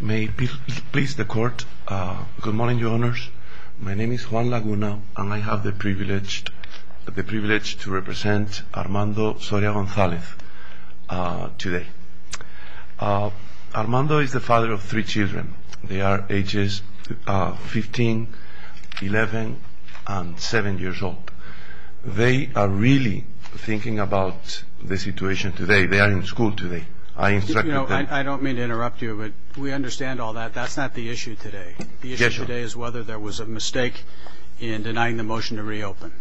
Good morning, Your Honors. My name is Juan Laguna, and I have the privilege to represent Armando Soria Gonzalez today. Armando is the father of three children. They are ages 15, 11, and 7 years old. They are really thinking about the situation today. They are in school today. I don't mean to interrupt you, but we understand all that. That's not the issue today. The issue today is whether there was a mistake in denying the motion to reopen.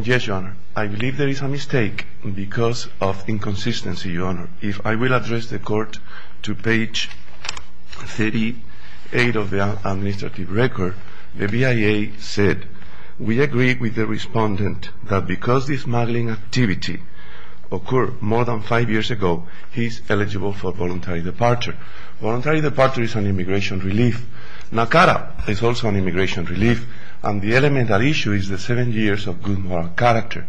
Yes, Your Honor. I believe there is a mistake because of inconsistency, Your Honor. If I will address the Court to page 38 of the administrative record, the BIA said, we agree with the respondent that because the smuggling activity occurred more than five years ago, he is eligible for voluntary departure. Voluntary departure is an immigration relief. NACARA is also an immigration relief. And the elemental issue is the seven years of good moral character.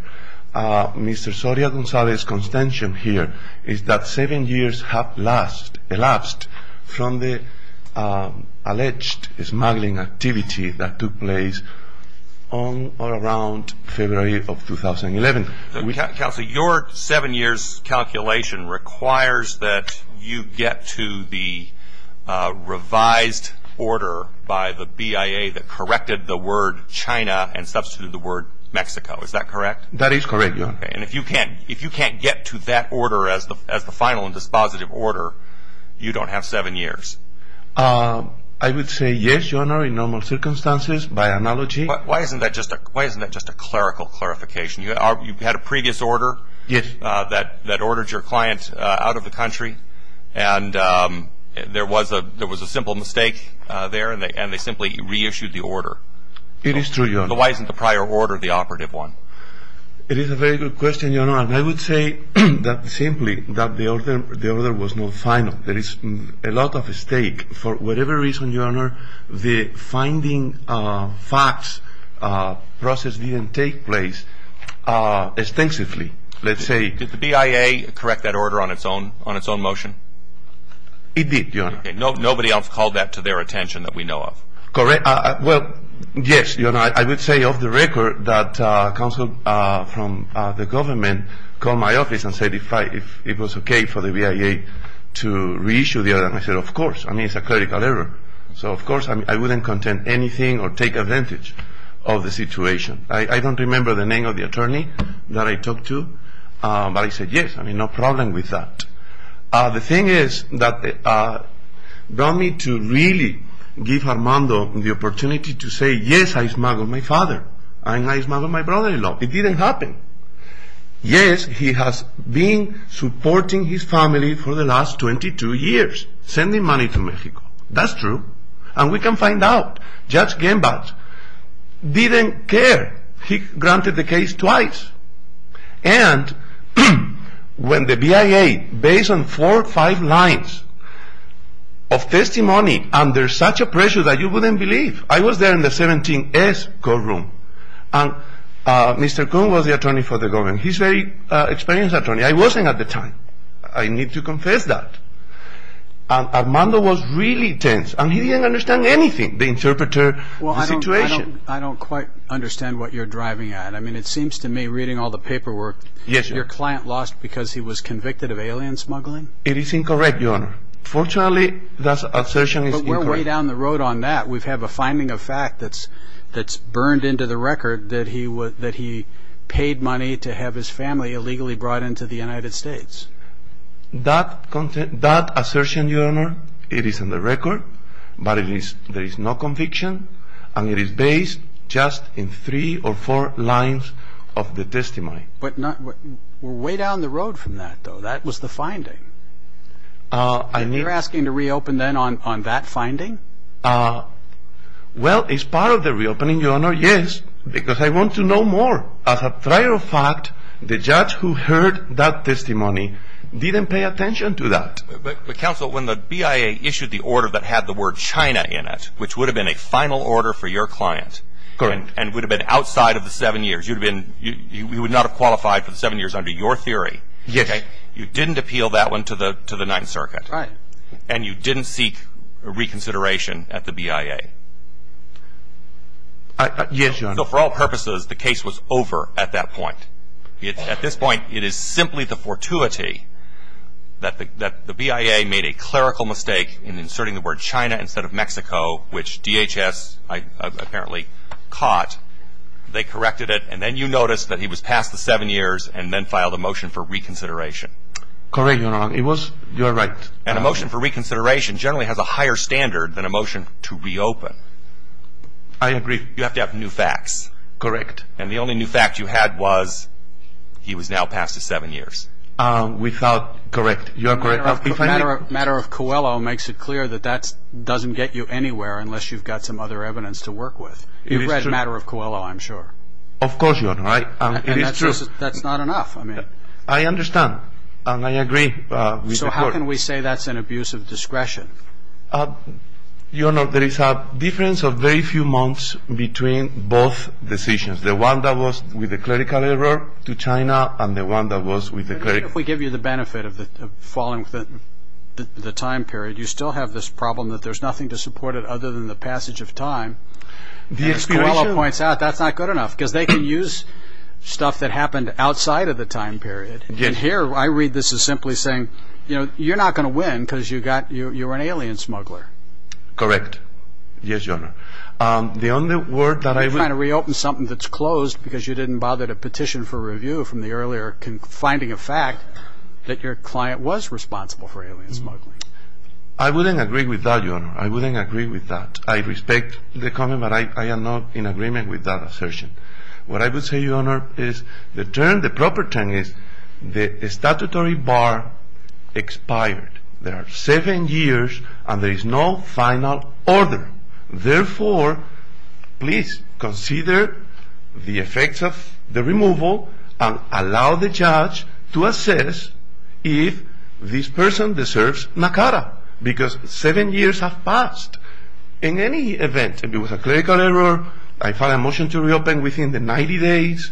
Mr. Soria Gonzalez's contention here is that seven years have elapsed from the alleged smuggling activity that took place on or around February of 2011. Counsel, your seven years calculation requires that you get to the revised order by the BIA that corrected the word China and substituted the word Mexico. Is that correct? That is correct, Your Honor. And if you can't get to that order as the final and dispositive order, you don't have seven years. I would say yes, Your Honor, in normal circumstances, by analogy. Why isn't that just a clerical clarification? You had a previous order that ordered your client out of the country, and there was a simple mistake there, and they simply reissued the order. It is true, Your Honor. Why isn't the prior order the operative one? It is a very good question, Your Honor. And I would say simply that the order was not final. There is a lot of mistake. For whatever reason, Your Honor, the finding facts process didn't take place extensively, let's say. Did the BIA correct that order on its own motion? It did, Your Honor. Okay. Nobody else called that to their attention that we know of. Well, yes, Your Honor, I would say off the record that counsel from the government called my office and said if it was okay for the BIA to reissue the order, and I said, of course. I mean, it's a clerical error. So, of course, I wouldn't contend anything or take advantage of the situation. I don't remember the name of the attorney that I talked to, but I said, yes, I mean, no problem with that. The thing is that it brought me to really give Armando the opportunity to say, yes, I smuggled my father, and I smuggled my brother-in-law. It didn't happen. Yes, he has been supporting his family for the last 22 years, sending money to Mexico. That's true. And we can find out Judge Gemba didn't care. He granted the case twice. And when the BIA, based on four or five lines of testimony under such a pressure that you wouldn't believe, I was there in the 17S courtroom, and Mr. Kuhn was the attorney for the government. He's a very experienced attorney. I wasn't at the time. I need to confess that. Armando was really tense, and he didn't understand anything, the interpreter, the situation. Well, I don't quite understand what you're driving at. I mean, it seems to me, reading all the paperwork, your client lost because he was convicted of alien smuggling? It is incorrect, Your Honor. Fortunately, that assertion is incorrect. But we're way down the road on that. We have a finding of fact that's burned into the record, that he paid money to have his family illegally brought into the United States. That assertion, Your Honor, it is in the record, but there is no conviction, and it is based just in three or four lines of the testimony. But we're way down the road from that, though. That was the finding. You're asking to reopen, then, on that finding? Well, it's part of the reopening, Your Honor, yes, because I want to know more. As a matter of fact, the judge who heard that testimony didn't pay attention to that. But, counsel, when the BIA issued the order that had the word China in it, which would have been a final order for your client and would have been outside of the seven years, you would not have qualified for the seven years under your theory. You didn't appeal that one to the Ninth Circuit. Right. And you didn't seek reconsideration at the BIA. Yes, Your Honor. So for all purposes, the case was over at that point. At this point, it is simply the fortuity that the BIA made a clerical mistake in inserting the word China instead of Mexico, which DHS apparently caught. They corrected it, and then you noticed that he was past the seven years and then filed a motion for reconsideration. Correct, Your Honor. It was your right. And a motion for reconsideration generally has a higher standard than a motion to reopen. I agree. You have to have new facts. Correct. And the only new fact you had was he was now past the seven years. We thought correct. You are correct. The matter of Coelho makes it clear that that doesn't get you anywhere unless you've got some other evidence to work with. It is true. You've read the matter of Coelho, I'm sure. Of course, Your Honor. It is true. That's not enough. I understand, and I agree with the court. So how can we say that's an abuse of discretion? Your Honor, there is a difference of very few months between both decisions. The one that was with the clerical error to China and the one that was with the cleric. If we give you the benefit of falling within the time period, you still have this problem that there's nothing to support it other than the passage of time. As Coelho points out, that's not good enough because they can use stuff that happened outside of the time period. And here I read this as simply saying, you know, you're not going to win because you're an alien smuggler. Correct. Yes, Your Honor. You're trying to reopen something that's closed because you didn't bother to petition for review from the earlier finding of fact that your client was responsible for alien smuggling. I wouldn't agree with that, Your Honor. I wouldn't agree with that. I respect the comment, but I am not in agreement with that assertion. What I would say, Your Honor, is the term, the proper term is the statutory bar expired. There are seven years, and there is no final order. Therefore, please consider the effects of the removal and allow the judge to assess if this person deserves NACARA because seven years have passed. In any event, it was a clerical error. I filed a motion to reopen within the 90 days.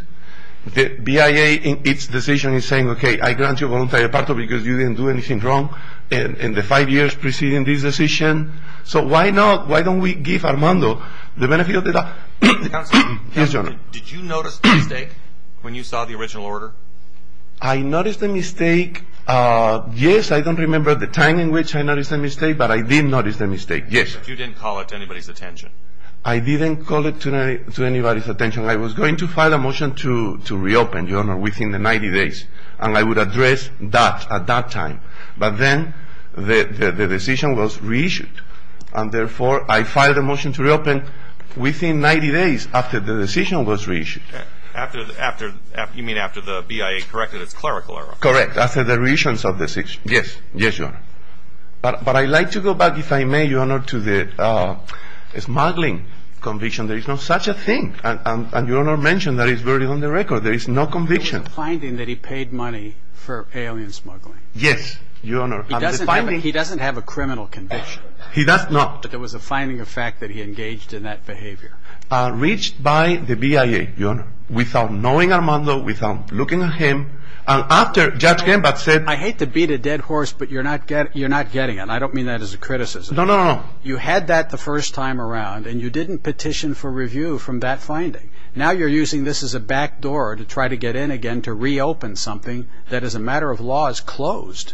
The BIA, in its decision, is saying, okay, I grant you voluntary departure because you didn't do anything wrong in the five years preceding this decision. So why not, why don't we give Armando the benefit of the doubt? Counselor. Yes, Your Honor. Did you notice the mistake when you saw the original order? I noticed the mistake. Yes, I don't remember the time in which I noticed the mistake, but I did notice the mistake, yes. You didn't call it to anybody's attention. I didn't call it to anybody's attention. I was going to file a motion to reopen, Your Honor, within the 90 days, and I would address that at that time. But then the decision was reissued, and therefore I filed a motion to reopen within 90 days after the decision was reissued. You mean after the BIA corrected its clerical error. Correct, after the reissuance of the decision. Yes. Yes, Your Honor. But I'd like to go back, if I may, Your Honor, to the smuggling conviction. There is no such a thing, and Your Honor mentioned that it's already on the record. There is no conviction. It was a finding that he paid money for alien smuggling. Yes, Your Honor. He doesn't have a criminal conviction. He does not. But it was a finding of fact that he engaged in that behavior. Reached by the BIA, Your Honor, without knowing Armando, without looking at him, and after Judge Gambat said I hate to beat a dead horse, but you're not getting it. I don't mean that as a criticism. No, no, no. You had that the first time around, and you didn't petition for review from that finding. Now you're using this as a backdoor to try to get in again to reopen something that as a matter of law is closed.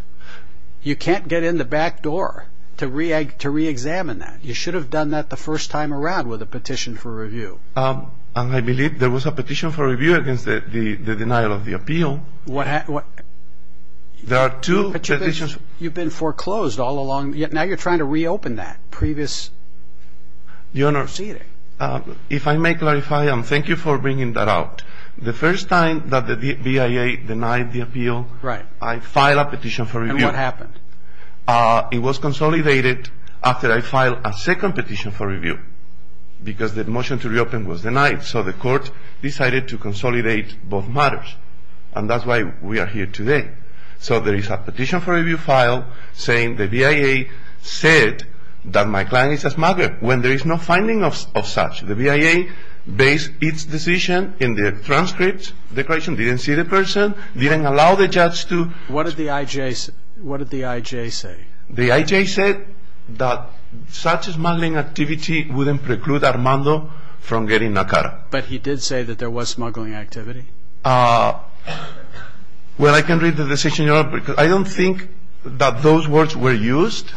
You can't get in the backdoor to reexamine that. You should have done that the first time around with a petition for review. And I believe there was a petition for review against the denial of the appeal. There are two petitions. But you've been foreclosed all along. Now you're trying to reopen that previous proceeding. If I may clarify, and thank you for bringing that out, the first time that the BIA denied the appeal, I filed a petition for review. And what happened? It was consolidated after I filed a second petition for review because the motion to reopen was denied. So the court decided to consolidate both matters. And that's why we are here today. So there is a petition for review file saying the BIA said that my client is a smuggler. When there is no finding of such, the BIA based its decision in the transcript. The question didn't see the person, didn't allow the judge to. What did the IJ say? The IJ said that such smuggling activity wouldn't preclude Armando from getting NACARA. But he did say that there was smuggling activity. Well, I can read the decision. I don't think that those words were used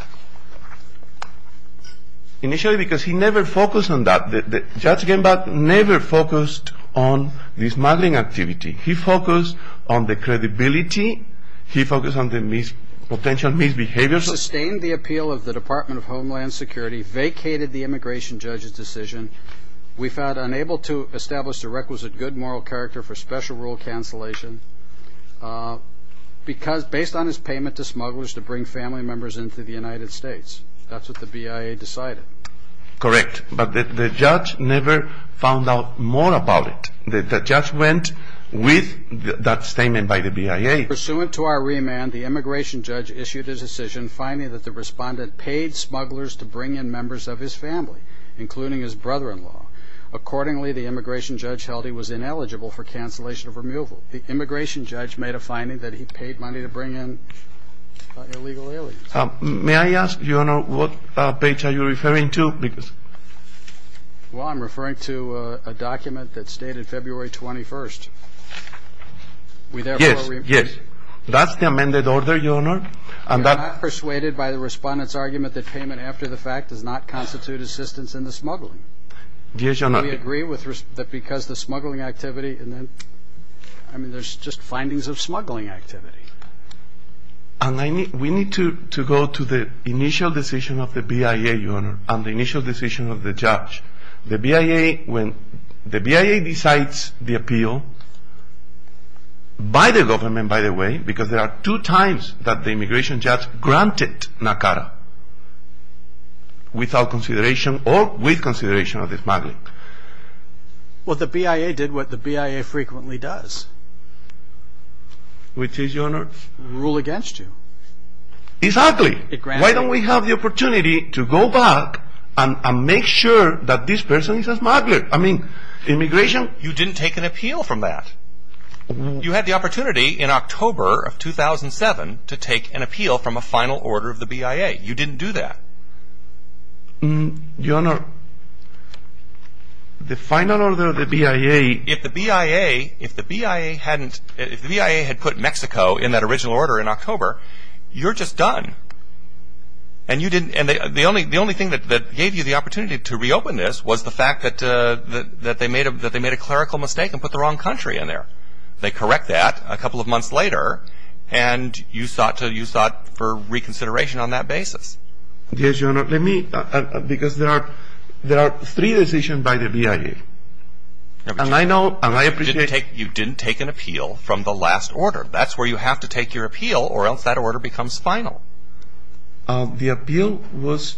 initially because he never focused on that. Judge Genbach never focused on this smuggling activity. He focused on the credibility. He focused on the potential misbehavior. Sustained the appeal of the Department of Homeland Security, vacated the immigration judge's decision. We found unable to establish a requisite good moral character for special rule cancellation. Because based on his payment to smugglers to bring family members into the United States. That's what the BIA decided. Correct. But the judge never found out more about it. The judge went with that statement by the BIA. Pursuant to our remand, the immigration judge issued his decision, finding that the respondent paid smugglers to bring in members of his family, including his brother-in-law. Accordingly, the immigration judge held he was ineligible for cancellation of removal. The immigration judge made a finding that he paid money to bring in illegal aliens. May I ask, Your Honor, what page are you referring to? Well, I'm referring to a document that stated February 21st. Yes, yes. That's the amended order, Your Honor. I'm not persuaded by the respondent's argument that payment after the fact does not constitute assistance in the smuggling. Yes, Your Honor. Do we agree that because the smuggling activity and then, I mean, there's just findings of smuggling activity. We need to go to the initial decision of the BIA, Your Honor, and the initial decision of the judge. The BIA, when the BIA decides the appeal, by the government, by the way, because there are two times that the immigration judge granted NACADA, without consideration or with consideration of the smuggling. Well, the BIA did what the BIA frequently does. Which is, Your Honor? Rule against you. It's ugly. It grants you. Why don't we have the opportunity to go back and make sure that this person is a smuggler? I mean, immigration. You didn't take an appeal from that. You had the opportunity in October of 2007 to take an appeal from a final order of the BIA. You didn't do that. Your Honor, the final order of the BIA. If the BIA hadn't, if the BIA had put Mexico in that original order in October, you're just done. And you didn't, and the only thing that gave you the opportunity to reopen this was the fact that they made a clerical mistake and put the wrong country in there. They correct that a couple of months later, and you sought to, you sought for reconsideration on that basis. Yes, Your Honor. Let me, because there are, there are three decisions by the BIA. And I know, and I appreciate. You didn't take, you didn't take an appeal from the last order. That's where you have to take your appeal, or else that order becomes final. The appeal was,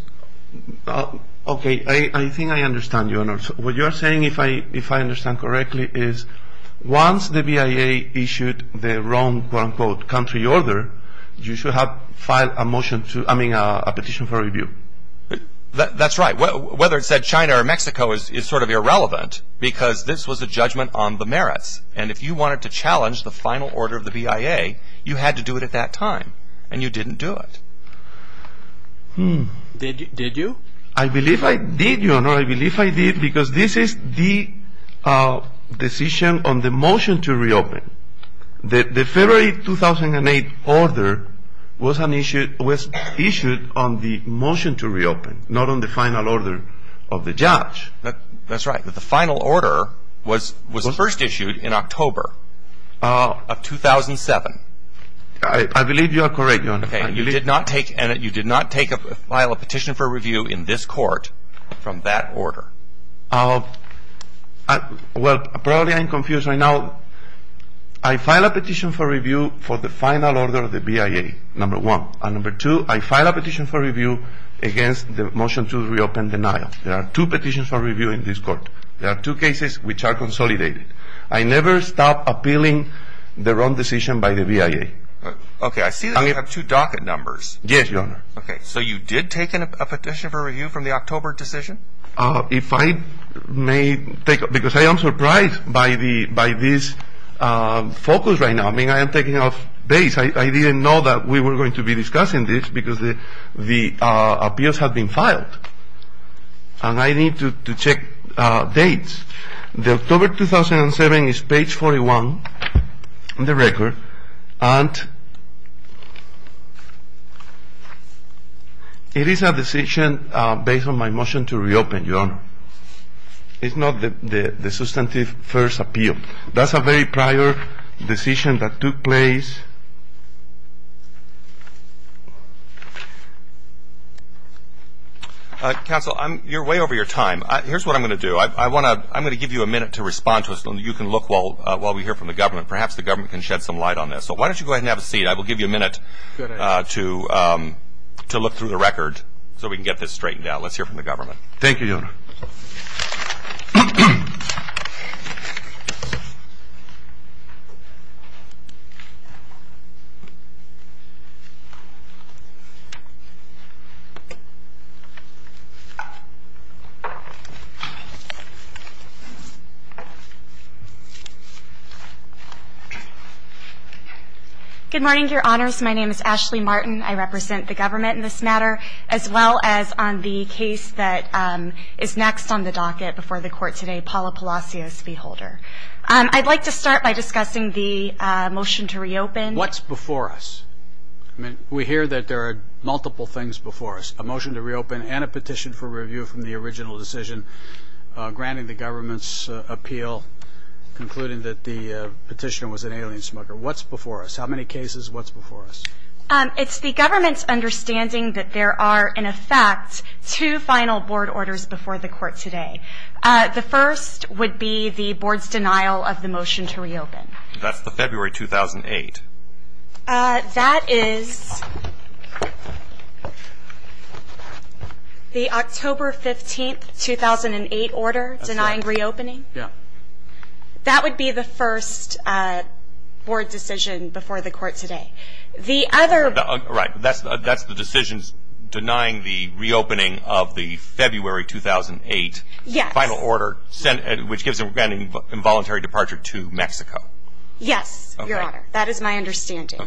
okay, I think I understand, Your Honor. What you're saying, if I understand correctly, is once the BIA issued the wrong, quote unquote, country order, you should have filed a motion to, I mean, a petition for review. That's right. Whether it said China or Mexico is sort of irrelevant, because this was a judgment on the merits. And if you wanted to challenge the final order of the BIA, you had to do it at that time. And you didn't do it. Did you? I believe I did, Your Honor. I believe I did, because this is the decision on the motion to reopen. The February 2008 order was an issue, was issued on the motion to reopen, not on the final order of the judge. That's right. The final order was first issued in October of 2007. I believe you are correct, Your Honor. Okay. You did not take, you did not file a petition for review in this court from that order. Well, probably I'm confused right now. I filed a petition for review for the final order of the BIA, number one. And number two, I filed a petition for review against the motion to reopen denial. There are two petitions for review in this court. There are two cases which are consolidated. I never stopped appealing the wrong decision by the BIA. Okay. I see that you have two docket numbers. Yes, Your Honor. Okay. So you did take a petition for review from the October decision? If I may take, because I am surprised by this focus right now. I mean, I am taking off dates. I didn't know that we were going to be discussing this because the appeals had been filed. And I need to check dates. The October 2007 is page 41 in the record. And it is a decision based on my motion to reopen, Your Honor. It's not the substantive first appeal. That's a very prior decision that took place. Counsel, you're way over your time. Here's what I'm going to do. I'm going to give you a minute to respond to us, and you can look while we hear from the government. Perhaps the government can shed some light on this. So why don't you go ahead and have a seat. I will give you a minute to look through the record so we can get this straightened out. Let's hear from the government. Thank you, Your Honor. Good morning, Your Honors. My name is Ashley Martin. I represent the government in this matter, as well as on the case that is next on the docket before the Court today, Paula Palacios v. Holder. I'd like to start by discussing the motion to reopen. What's before us? We hear that there are multiple things before us, a motion to reopen and a petition for review from the original decision granting the government's appeal, concluding that the petitioner was an alien smuggler. What's before us? How many cases? What's before us? It's the government's understanding that there are, in effect, two final board orders before the Court today. The first would be the board's denial of the motion to reopen. That's the February 2008. That is the October 15, 2008 order denying reopening? Yes. That would be the first board decision before the Court today. Right. That's the decision denying the reopening of the February 2008 final order, which gives an involuntary departure to Mexico. Yes, Your Honor. That is my understanding.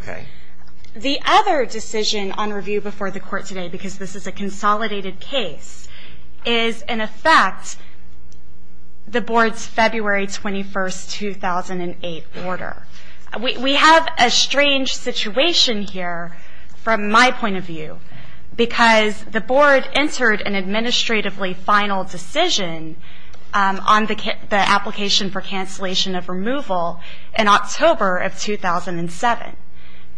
The other decision on review before the Court today, because this is a consolidated case, is, in effect, the board's February 21, 2008 order. We have a strange situation here from my point of view because the board entered an administratively final decision on the application for cancellation of removal in October of 2007.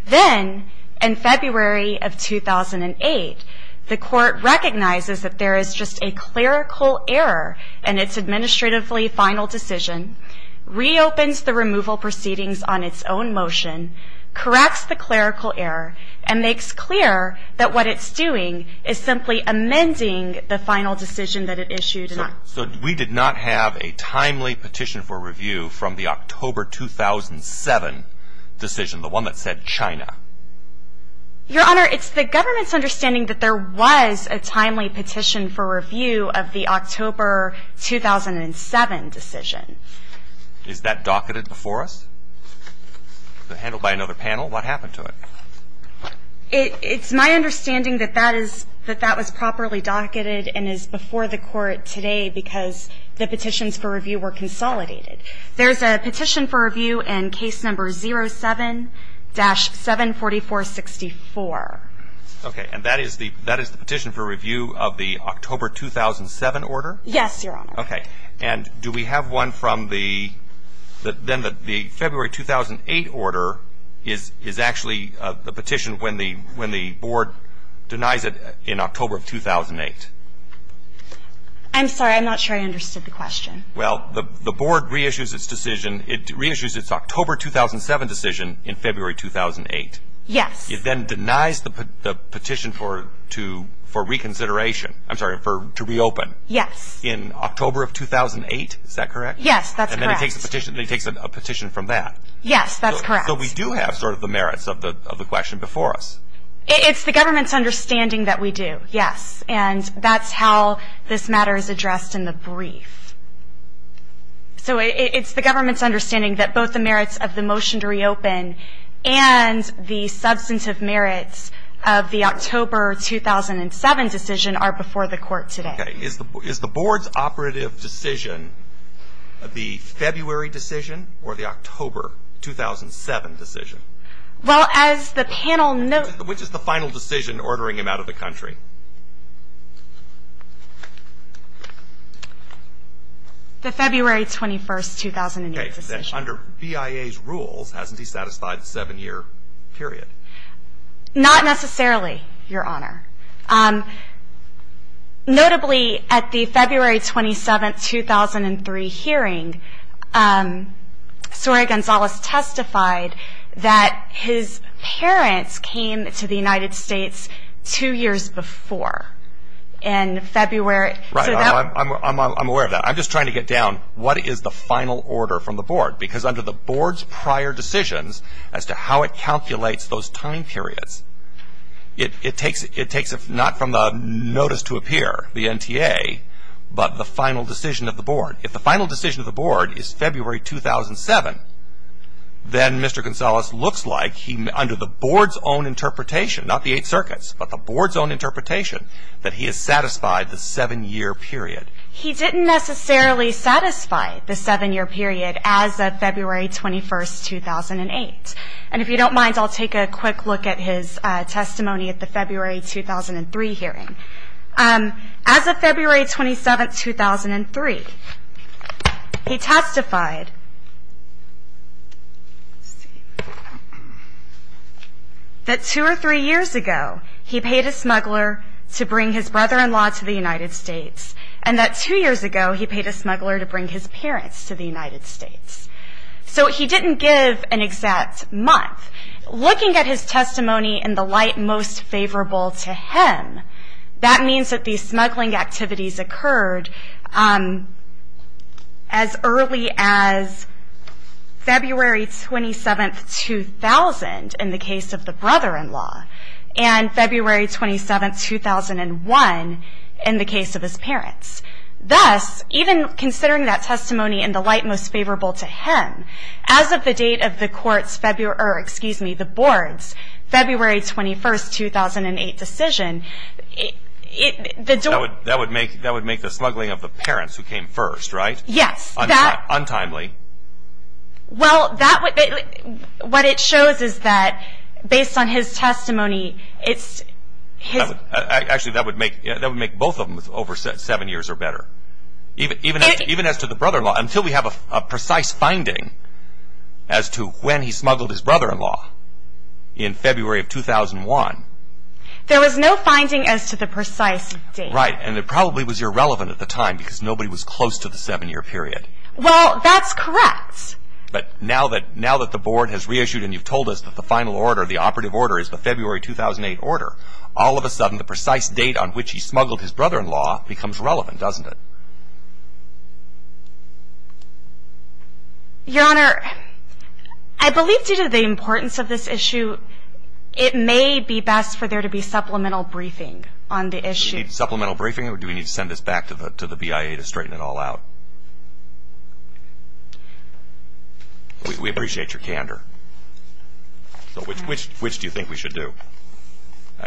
Then, in February of 2008, the Court recognizes that there is just a clerical error in its administratively final decision, reopens the removal proceedings on its own motion, corrects the clerical error, and makes clear that what it's doing is simply amending the final decision that it issued. So we did not have a timely petition for review from the October 2007 decision, the one that said China? Your Honor, it's the government's understanding that there was a timely petition for review of the October 2007 decision. Is that docketed before us, handled by another panel? What happened to it? It's my understanding that that was properly docketed and is before the Court today because the petitions for review were consolidated. There's a petition for review in case number 07-74464. Okay. And that is the petition for review of the October 2007 order? Yes, Your Honor. Okay. And do we have one from the then the February 2008 order is actually the petition when the board denies it in October of 2008? I'm sorry. I'm not sure I understood the question. Well, the board reissues its decision. It reissues its October 2007 decision in February 2008. Yes. It then denies the petition for reconsideration. I'm sorry, to reopen. Yes. In October of 2008. Is that correct? Yes, that's correct. And then it takes a petition from that. Yes, that's correct. So we do have sort of the merits of the question before us. It's the government's understanding that we do, yes. And that's how this matter is addressed in the brief. So it's the government's understanding that both the merits of the motion to reopen and the substantive merits of the October 2007 decision are before the court today. Okay. Is the board's operative decision the February decision or the October 2007 decision? Well, as the panel knows. Which is the final decision ordering him out of the country? The February 21, 2008 decision. Okay. Under BIA's rules, hasn't he satisfied a seven-year period? Not necessarily, Your Honor. Notably, at the February 27, 2003 hearing, Soraya Gonzalez testified that his parents came to the United States two years before. In February. Right. I'm aware of that. I'm just trying to get down what is the final order from the board. Because under the board's prior decisions as to how it calculates those time periods, it takes not from the notice to appear, the NTA, but the final decision of the board. If the final decision of the board is February 2007, then Mr. Gonzalez looks like under the board's own interpretation, not the Eight Circuits, but the board's own interpretation, that he has satisfied the seven-year period. He didn't necessarily satisfy the seven-year period as of February 21, 2008. And if you don't mind, I'll take a quick look at his testimony at the February 2003 hearing. As of February 27, 2003, he testified that two or three years ago, he paid a smuggler to bring his brother-in-law to the United States, and that two years ago he paid a smuggler to bring his parents to the United States. So he didn't give an exact month. Looking at his testimony in the light most favorable to him, that means that these smuggling activities occurred as early as February 27, 2000, in the case of the brother-in-law, and February 27, 2001, in the case of his parents. Thus, even considering that testimony in the light most favorable to him, as of the date of the board's February 21, 2008 decision, the door... That would make the smuggling of the parents who came first, right? Yes. Untimely. Well, what it shows is that, based on his testimony, it's... Actually, that would make both of them over seven years or better. Even as to the brother-in-law, until we have a precise finding as to when he smuggled his brother-in-law in February of 2001. There was no finding as to the precise date. Right, and it probably was irrelevant at the time because nobody was close to the seven-year period. Well, that's correct. But now that the board has reissued and you've told us that the final order, the February 2008 order, all of a sudden the precise date on which he smuggled his brother-in-law becomes relevant, doesn't it? Your Honor, I believe due to the importance of this issue, it may be best for there to be supplemental briefing on the issue. Do we need supplemental briefing or do we need to send this back to the BIA to straighten it all out? We appreciate your candor. Which do you think we should do?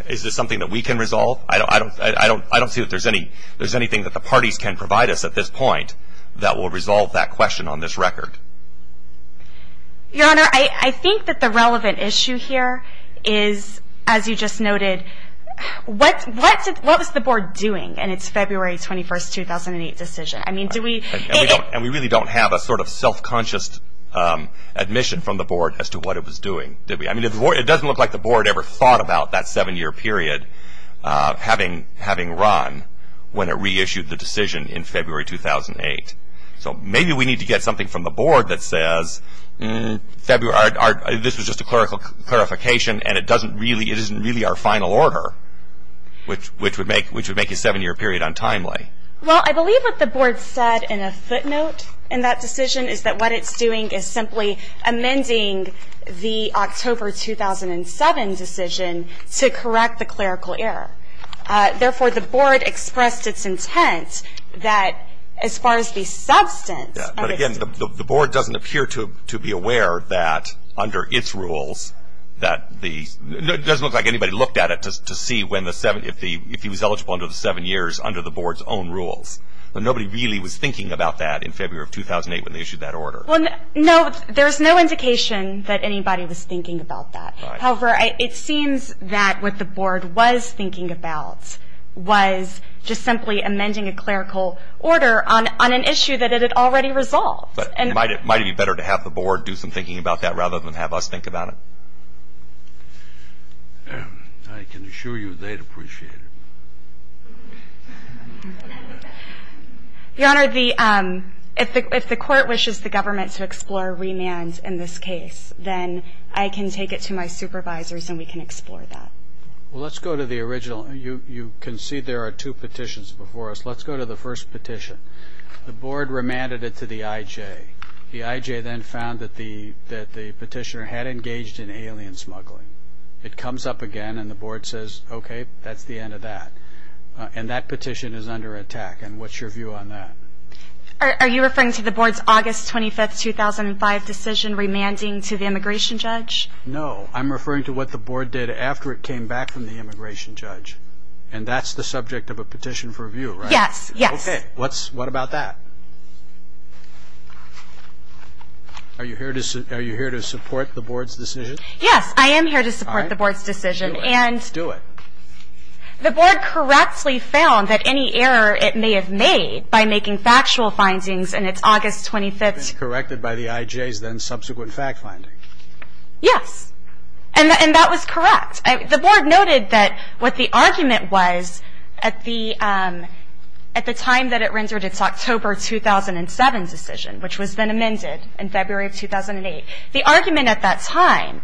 Is this something that we can resolve? I don't see that there's anything that the parties can provide us at this point that will resolve that question on this record. Your Honor, I think that the relevant issue here is, as you just noted, what is the board doing in its February 21, 2008 decision? And we really don't have a sort of self-conscious admission from the board as to what it was doing, did we? It doesn't look like the board ever thought about that seven-year period having run when it reissued the decision in February 2008. So maybe we need to get something from the board that says, this was just a clarification and it isn't really our final order, which would make a seven-year period untimely. Well, I believe what the board said in a footnote in that decision is that what it's doing is simply amending the October 2007 decision to correct the clerical error. Therefore, the board expressed its intent that, as far as the substance of it. But, again, the board doesn't appear to be aware that under its rules that the – it doesn't look like anybody looked at it to see when the – if he was eligible under the seven years under the board's own rules. But nobody really was thinking about that in February of 2008 when they issued that order. Well, no, there's no indication that anybody was thinking about that. However, it seems that what the board was thinking about was just simply amending a clerical order on an issue that it had already resolved. But might it be better to have the board do some thinking about that rather than have us think about it? I can assure you they'd appreciate it. Your Honor, the – if the court wishes the government to explore remands in this case, then I can take it to my supervisors and we can explore that. Well, let's go to the original. You can see there are two petitions before us. Let's go to the first petition. The board remanded it to the IJ. The IJ then found that the petitioner had engaged in alien smuggling. It comes up again and the board says, okay, that's the end of that. And that petition is under attack. And what's your view on that? Are you referring to the board's August 25, 2005 decision remanding to the immigration judge? No. I'm referring to what the board did after it came back from the immigration judge. And that's the subject of a petition for review, right? Yes, yes. Okay. What's – what about that? Are you here to support the board's decision? Yes, I am here to support the board's decision. All right. Do it. Do it. The board correctly found that any error it may have made by making factual findings in its August 25th – Corrected by the IJ's then subsequent fact finding. Yes. And that was correct. The board noted that what the argument was at the time that it rendered its October 2007 decision, which was then amended in February of 2008, the argument at that time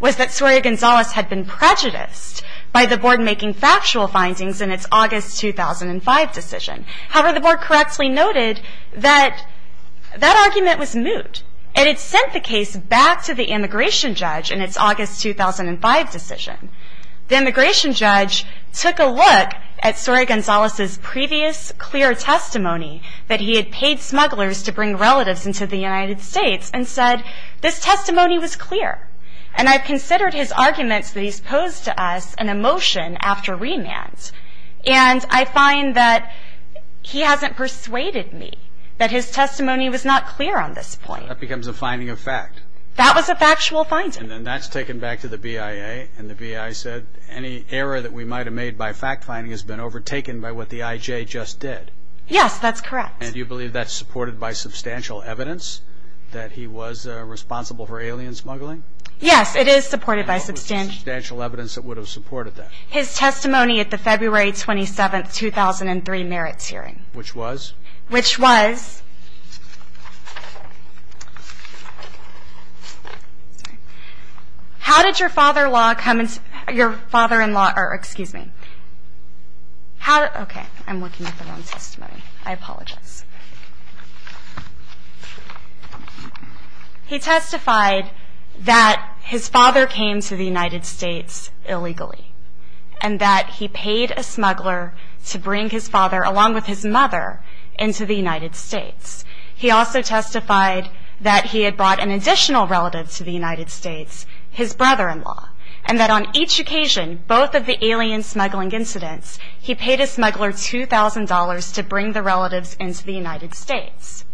was that Soria Gonzalez had been prejudiced by the board making factual findings in its August 2005 decision. However, the board correctly noted that that argument was moot. It had sent the case back to the immigration judge in its August 2005 decision. The immigration judge took a look at Soria Gonzalez's previous clear testimony that he had paid smugglers to bring relatives into the United States and said this testimony was clear. And I've considered his arguments that he's posed to us an emotion after remand. And I find that he hasn't persuaded me that his testimony was not clear on this point. So that becomes a finding of fact. That was a factual finding. And then that's taken back to the BIA, and the BIA said any error that we might have made by fact finding has been overtaken by what the IJ just did. Yes, that's correct. And you believe that's supported by substantial evidence that he was responsible for alien smuggling? Yes, it is supported by substantial evidence that would have supported that. His testimony at the February 27, 2003 merits hearing. Which was? Which was? How did your father-in-law come into, your father-in-law, or excuse me. How, okay, I'm looking at the wrong testimony. I apologize. He testified that his father came to the United States illegally and that he paid a smuggler to bring his father, along with his mother, into the United States. He also testified that he had brought an additional relative to the United States, his brother-in-law, and that on each occasion, both of the alien smuggling incidents, he paid a smuggler $2,000 to bring the relatives into the United States.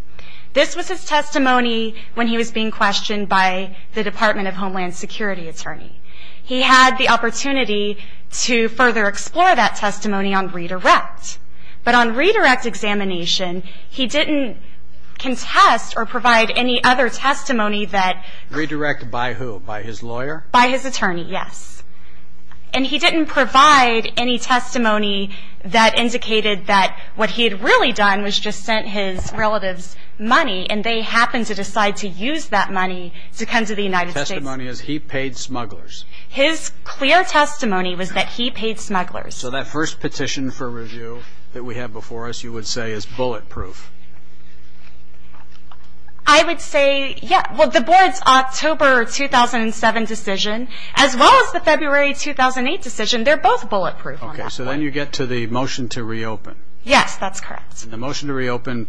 This was his testimony when he was being questioned by the Department of Homeland Security attorney. He had the opportunity to further explore that testimony on redirect. But on redirect examination, he didn't contest or provide any other testimony that... Redirect by who? By his lawyer? By his attorney, yes. And he didn't provide any testimony that indicated that what he had really done was just sent his relatives money and they happened to decide to use that money to come to the United States. So his testimony is he paid smugglers? His clear testimony was that he paid smugglers. So that first petition for review that we have before us, you would say, is bulletproof? I would say, yeah. Well, the board's October 2007 decision, as well as the February 2008 decision, they're both bulletproof on that one. Okay, so then you get to the motion to reopen. Yes, that's correct. The motion to reopen,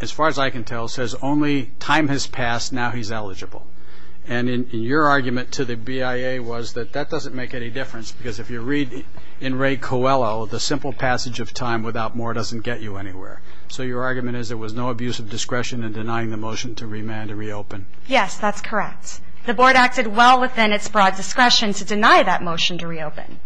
as far as I can tell, says only time has passed, now he's eligible. And your argument to the BIA was that that doesn't make any difference because if you read in Ray Coelho, the simple passage of time without more doesn't get you anywhere. So your argument is there was no abuse of discretion in denying the motion to remand and reopen? Yes, that's correct. The board acted well within its broad discretion to deny that motion to reopen.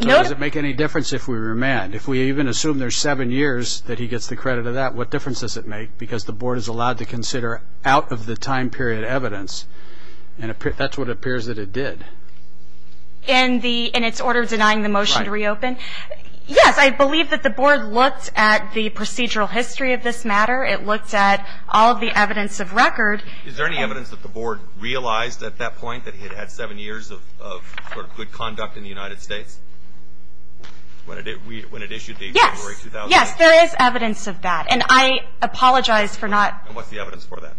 Does it make any difference if we remand? If we even assume there's seven years that he gets the credit of that, what difference does it make? Because the board is allowed to consider out-of-the-time period evidence, and that's what appears that it did. In its order denying the motion to reopen? Right. Yes, I believe that the board looked at the procedural history of this matter. It looked at all the evidence of record. Is there any evidence that the board realized at that point that he had had seven years of good conduct in the United States? When it issued the February 2008? Yes, there is evidence of that. And I apologize for not... What's the evidence for that?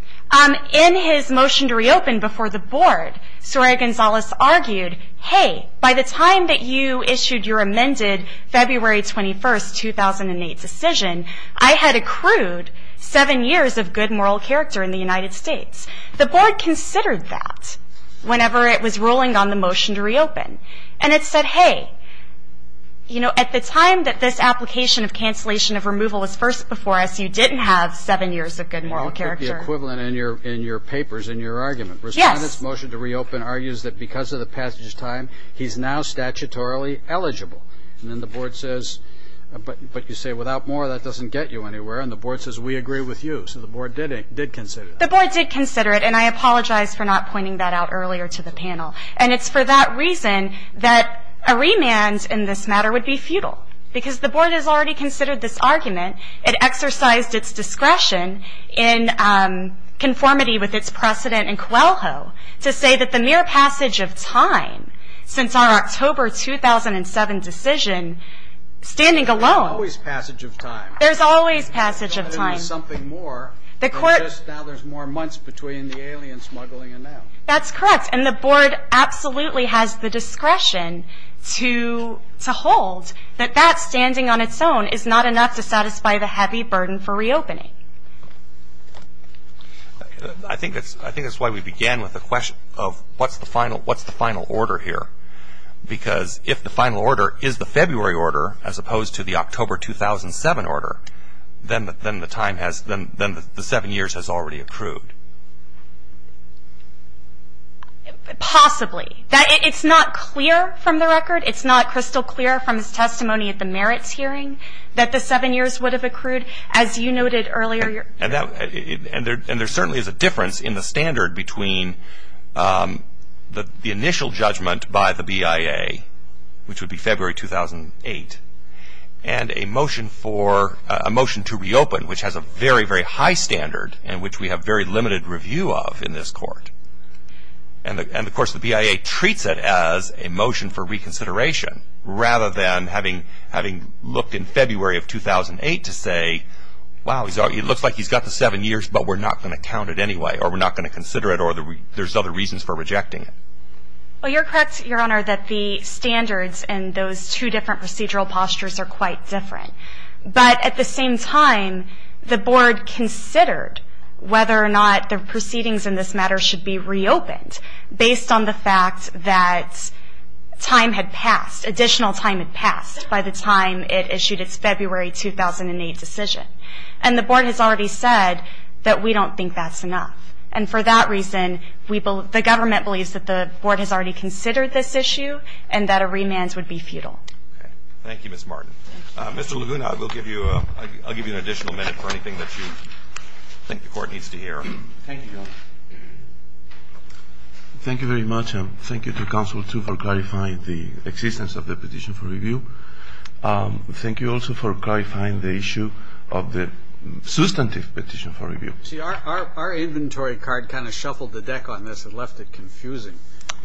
In his motion to reopen before the board, Soraya Gonzalez argued, hey, by the time that you issued your amended February 21, 2008 decision, I had accrued seven years of good moral character in the United States. The board considered that whenever it was ruling on the motion to reopen. And it said, hey, you know, at the time that this application of cancellation of removal was first before us, you didn't have seven years of good moral character. The equivalent in your papers, in your argument. Yes. Respondent's motion to reopen argues that because of the passage of time, he's now statutorily eligible. And then the board says, but you say without more, that doesn't get you anywhere. And the board says, we agree with you. So the board did consider that. The board did consider it, and I apologize for not pointing that out earlier to the panel. And it's for that reason that a remand in this matter would be futile. Because the board has already considered this argument. It exercised its discretion in conformity with its precedent in Coelho to say that the mere passage of time, since our October 2007 decision, standing alone. There's always passage of time. There's always passage of time. There's got to be something more than just now there's more months between the alien smuggling and now. That's correct. And the board absolutely has the discretion to hold that that standing on its own is not enough to satisfy the heavy burden for reopening. I think that's why we began with the question of what's the final order here? Because if the final order is the February order, as opposed to the October 2007 order, then the seven years has already accrued. Possibly. It's not clear from the record. It's not crystal clear from his testimony at the merits hearing that the seven years would have accrued, as you noted earlier. And there certainly is a difference in the standard between the initial judgment by the BIA, which would be February 2008, and a motion to reopen, which has a very, very high standard and which we have very limited review of in this court. And, of course, the BIA treats it as a motion for reconsideration, rather than having looked in February of 2008 to say, wow, it looks like he's got the seven years, but we're not going to count it anyway or we're not going to consider it or there's other reasons for rejecting it. Well, you're correct, Your Honor, that the standards in those two different procedural postures are quite different. But at the same time, the board considered whether or not the proceedings in this matter should be reopened, based on the fact that time had passed, additional time had passed by the time it issued its February 2008 decision. And the board has already said that we don't think that's enough. And for that reason, the government believes that the board has already considered this issue and that a remand would be futile. Thank you, Ms. Martin. Mr. Laguna, I'll give you an additional minute for anything that you think the Court needs to hear. Thank you, Your Honor. Thank you very much, and thank you to Council, too, for clarifying the existence of the petition for review. Thank you also for clarifying the issue of the substantive petition for review. See, our inventory card kind of shuffled the deck on this and left it confusing.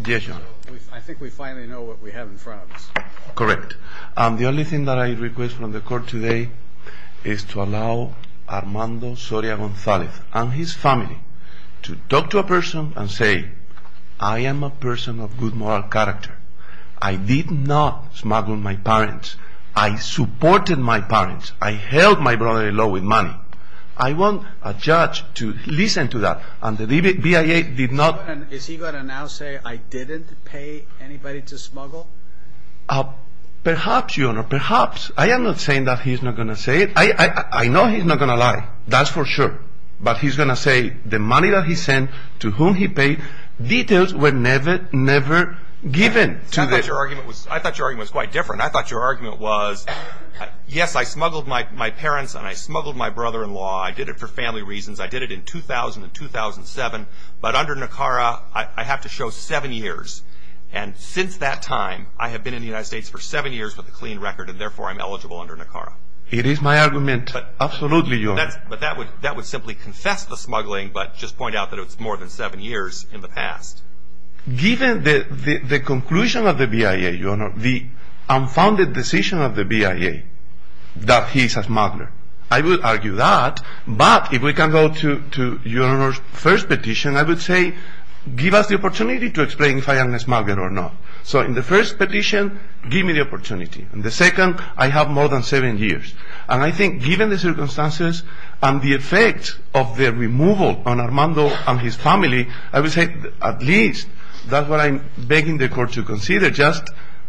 Yes, Your Honor. I think we finally know what we have in front of us. Correct. The only thing that I request from the Court today is to allow Armando Soria Gonzalez and his family to talk to a person and say, I am a person of good moral character. I did not smuggle my parents. I supported my parents. I held my brother-in-law with money. I want a judge to listen to that. And the BIA did not. Is he going to now say, I didn't pay anybody to smuggle? Perhaps, Your Honor, perhaps. I am not saying that he's not going to say it. I know he's not going to lie. That's for sure. But he's going to say the money that he sent to whom he paid, details were never, never given to this. I thought your argument was quite different. I thought your argument was, yes, I smuggled my parents and I smuggled my brother-in-law. I did it for family reasons. I did it in 2000 and 2007. But under NACARA, I have to show seven years. And since that time, I have been in the United States for seven years with a clean record and, therefore, I'm eligible under NACARA. It is my argument, absolutely, Your Honor. But that would simply confess the smuggling but just point out that it's more than seven years in the past. Given the conclusion of the BIA, Your Honor, the unfounded decision of the BIA that he's a smuggler, I would argue that. But if we can go to Your Honor's first petition, I would say give us the opportunity to explain if I am a smuggler or not. So in the first petition, give me the opportunity. In the second, I have more than seven years. And I think given the circumstances and the effect of the removal on Armando and his family, I would say at least that's what I'm begging the court to consider, just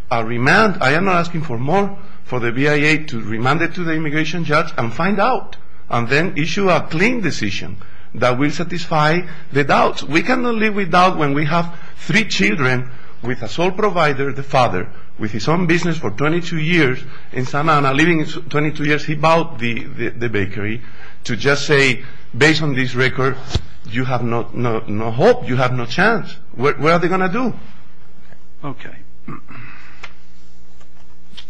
a remand. I am not asking for more for the BIA to remand it to the immigration judge and find out and then issue a clean decision that will satisfy the doubts. We cannot live without when we have three children with a sole provider, the father, with his own business for 22 years in Santa Ana, living 22 years. He bought the bakery to just say, based on this record, you have no hope. You have no chance. What are they going to do? Okay.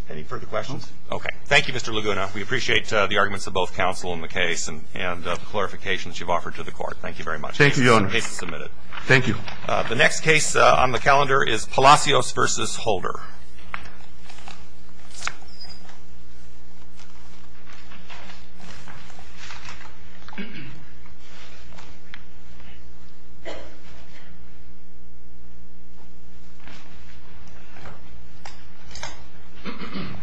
Any further questions? Okay. Thank you, Mr. Laguna. We appreciate the arguments of both counsel in the case and the clarifications you've offered to the court. Thank you very much. Thank you, Your Honor. The case is submitted. Thank you. The next case on the calendar is Palacios v. Holder.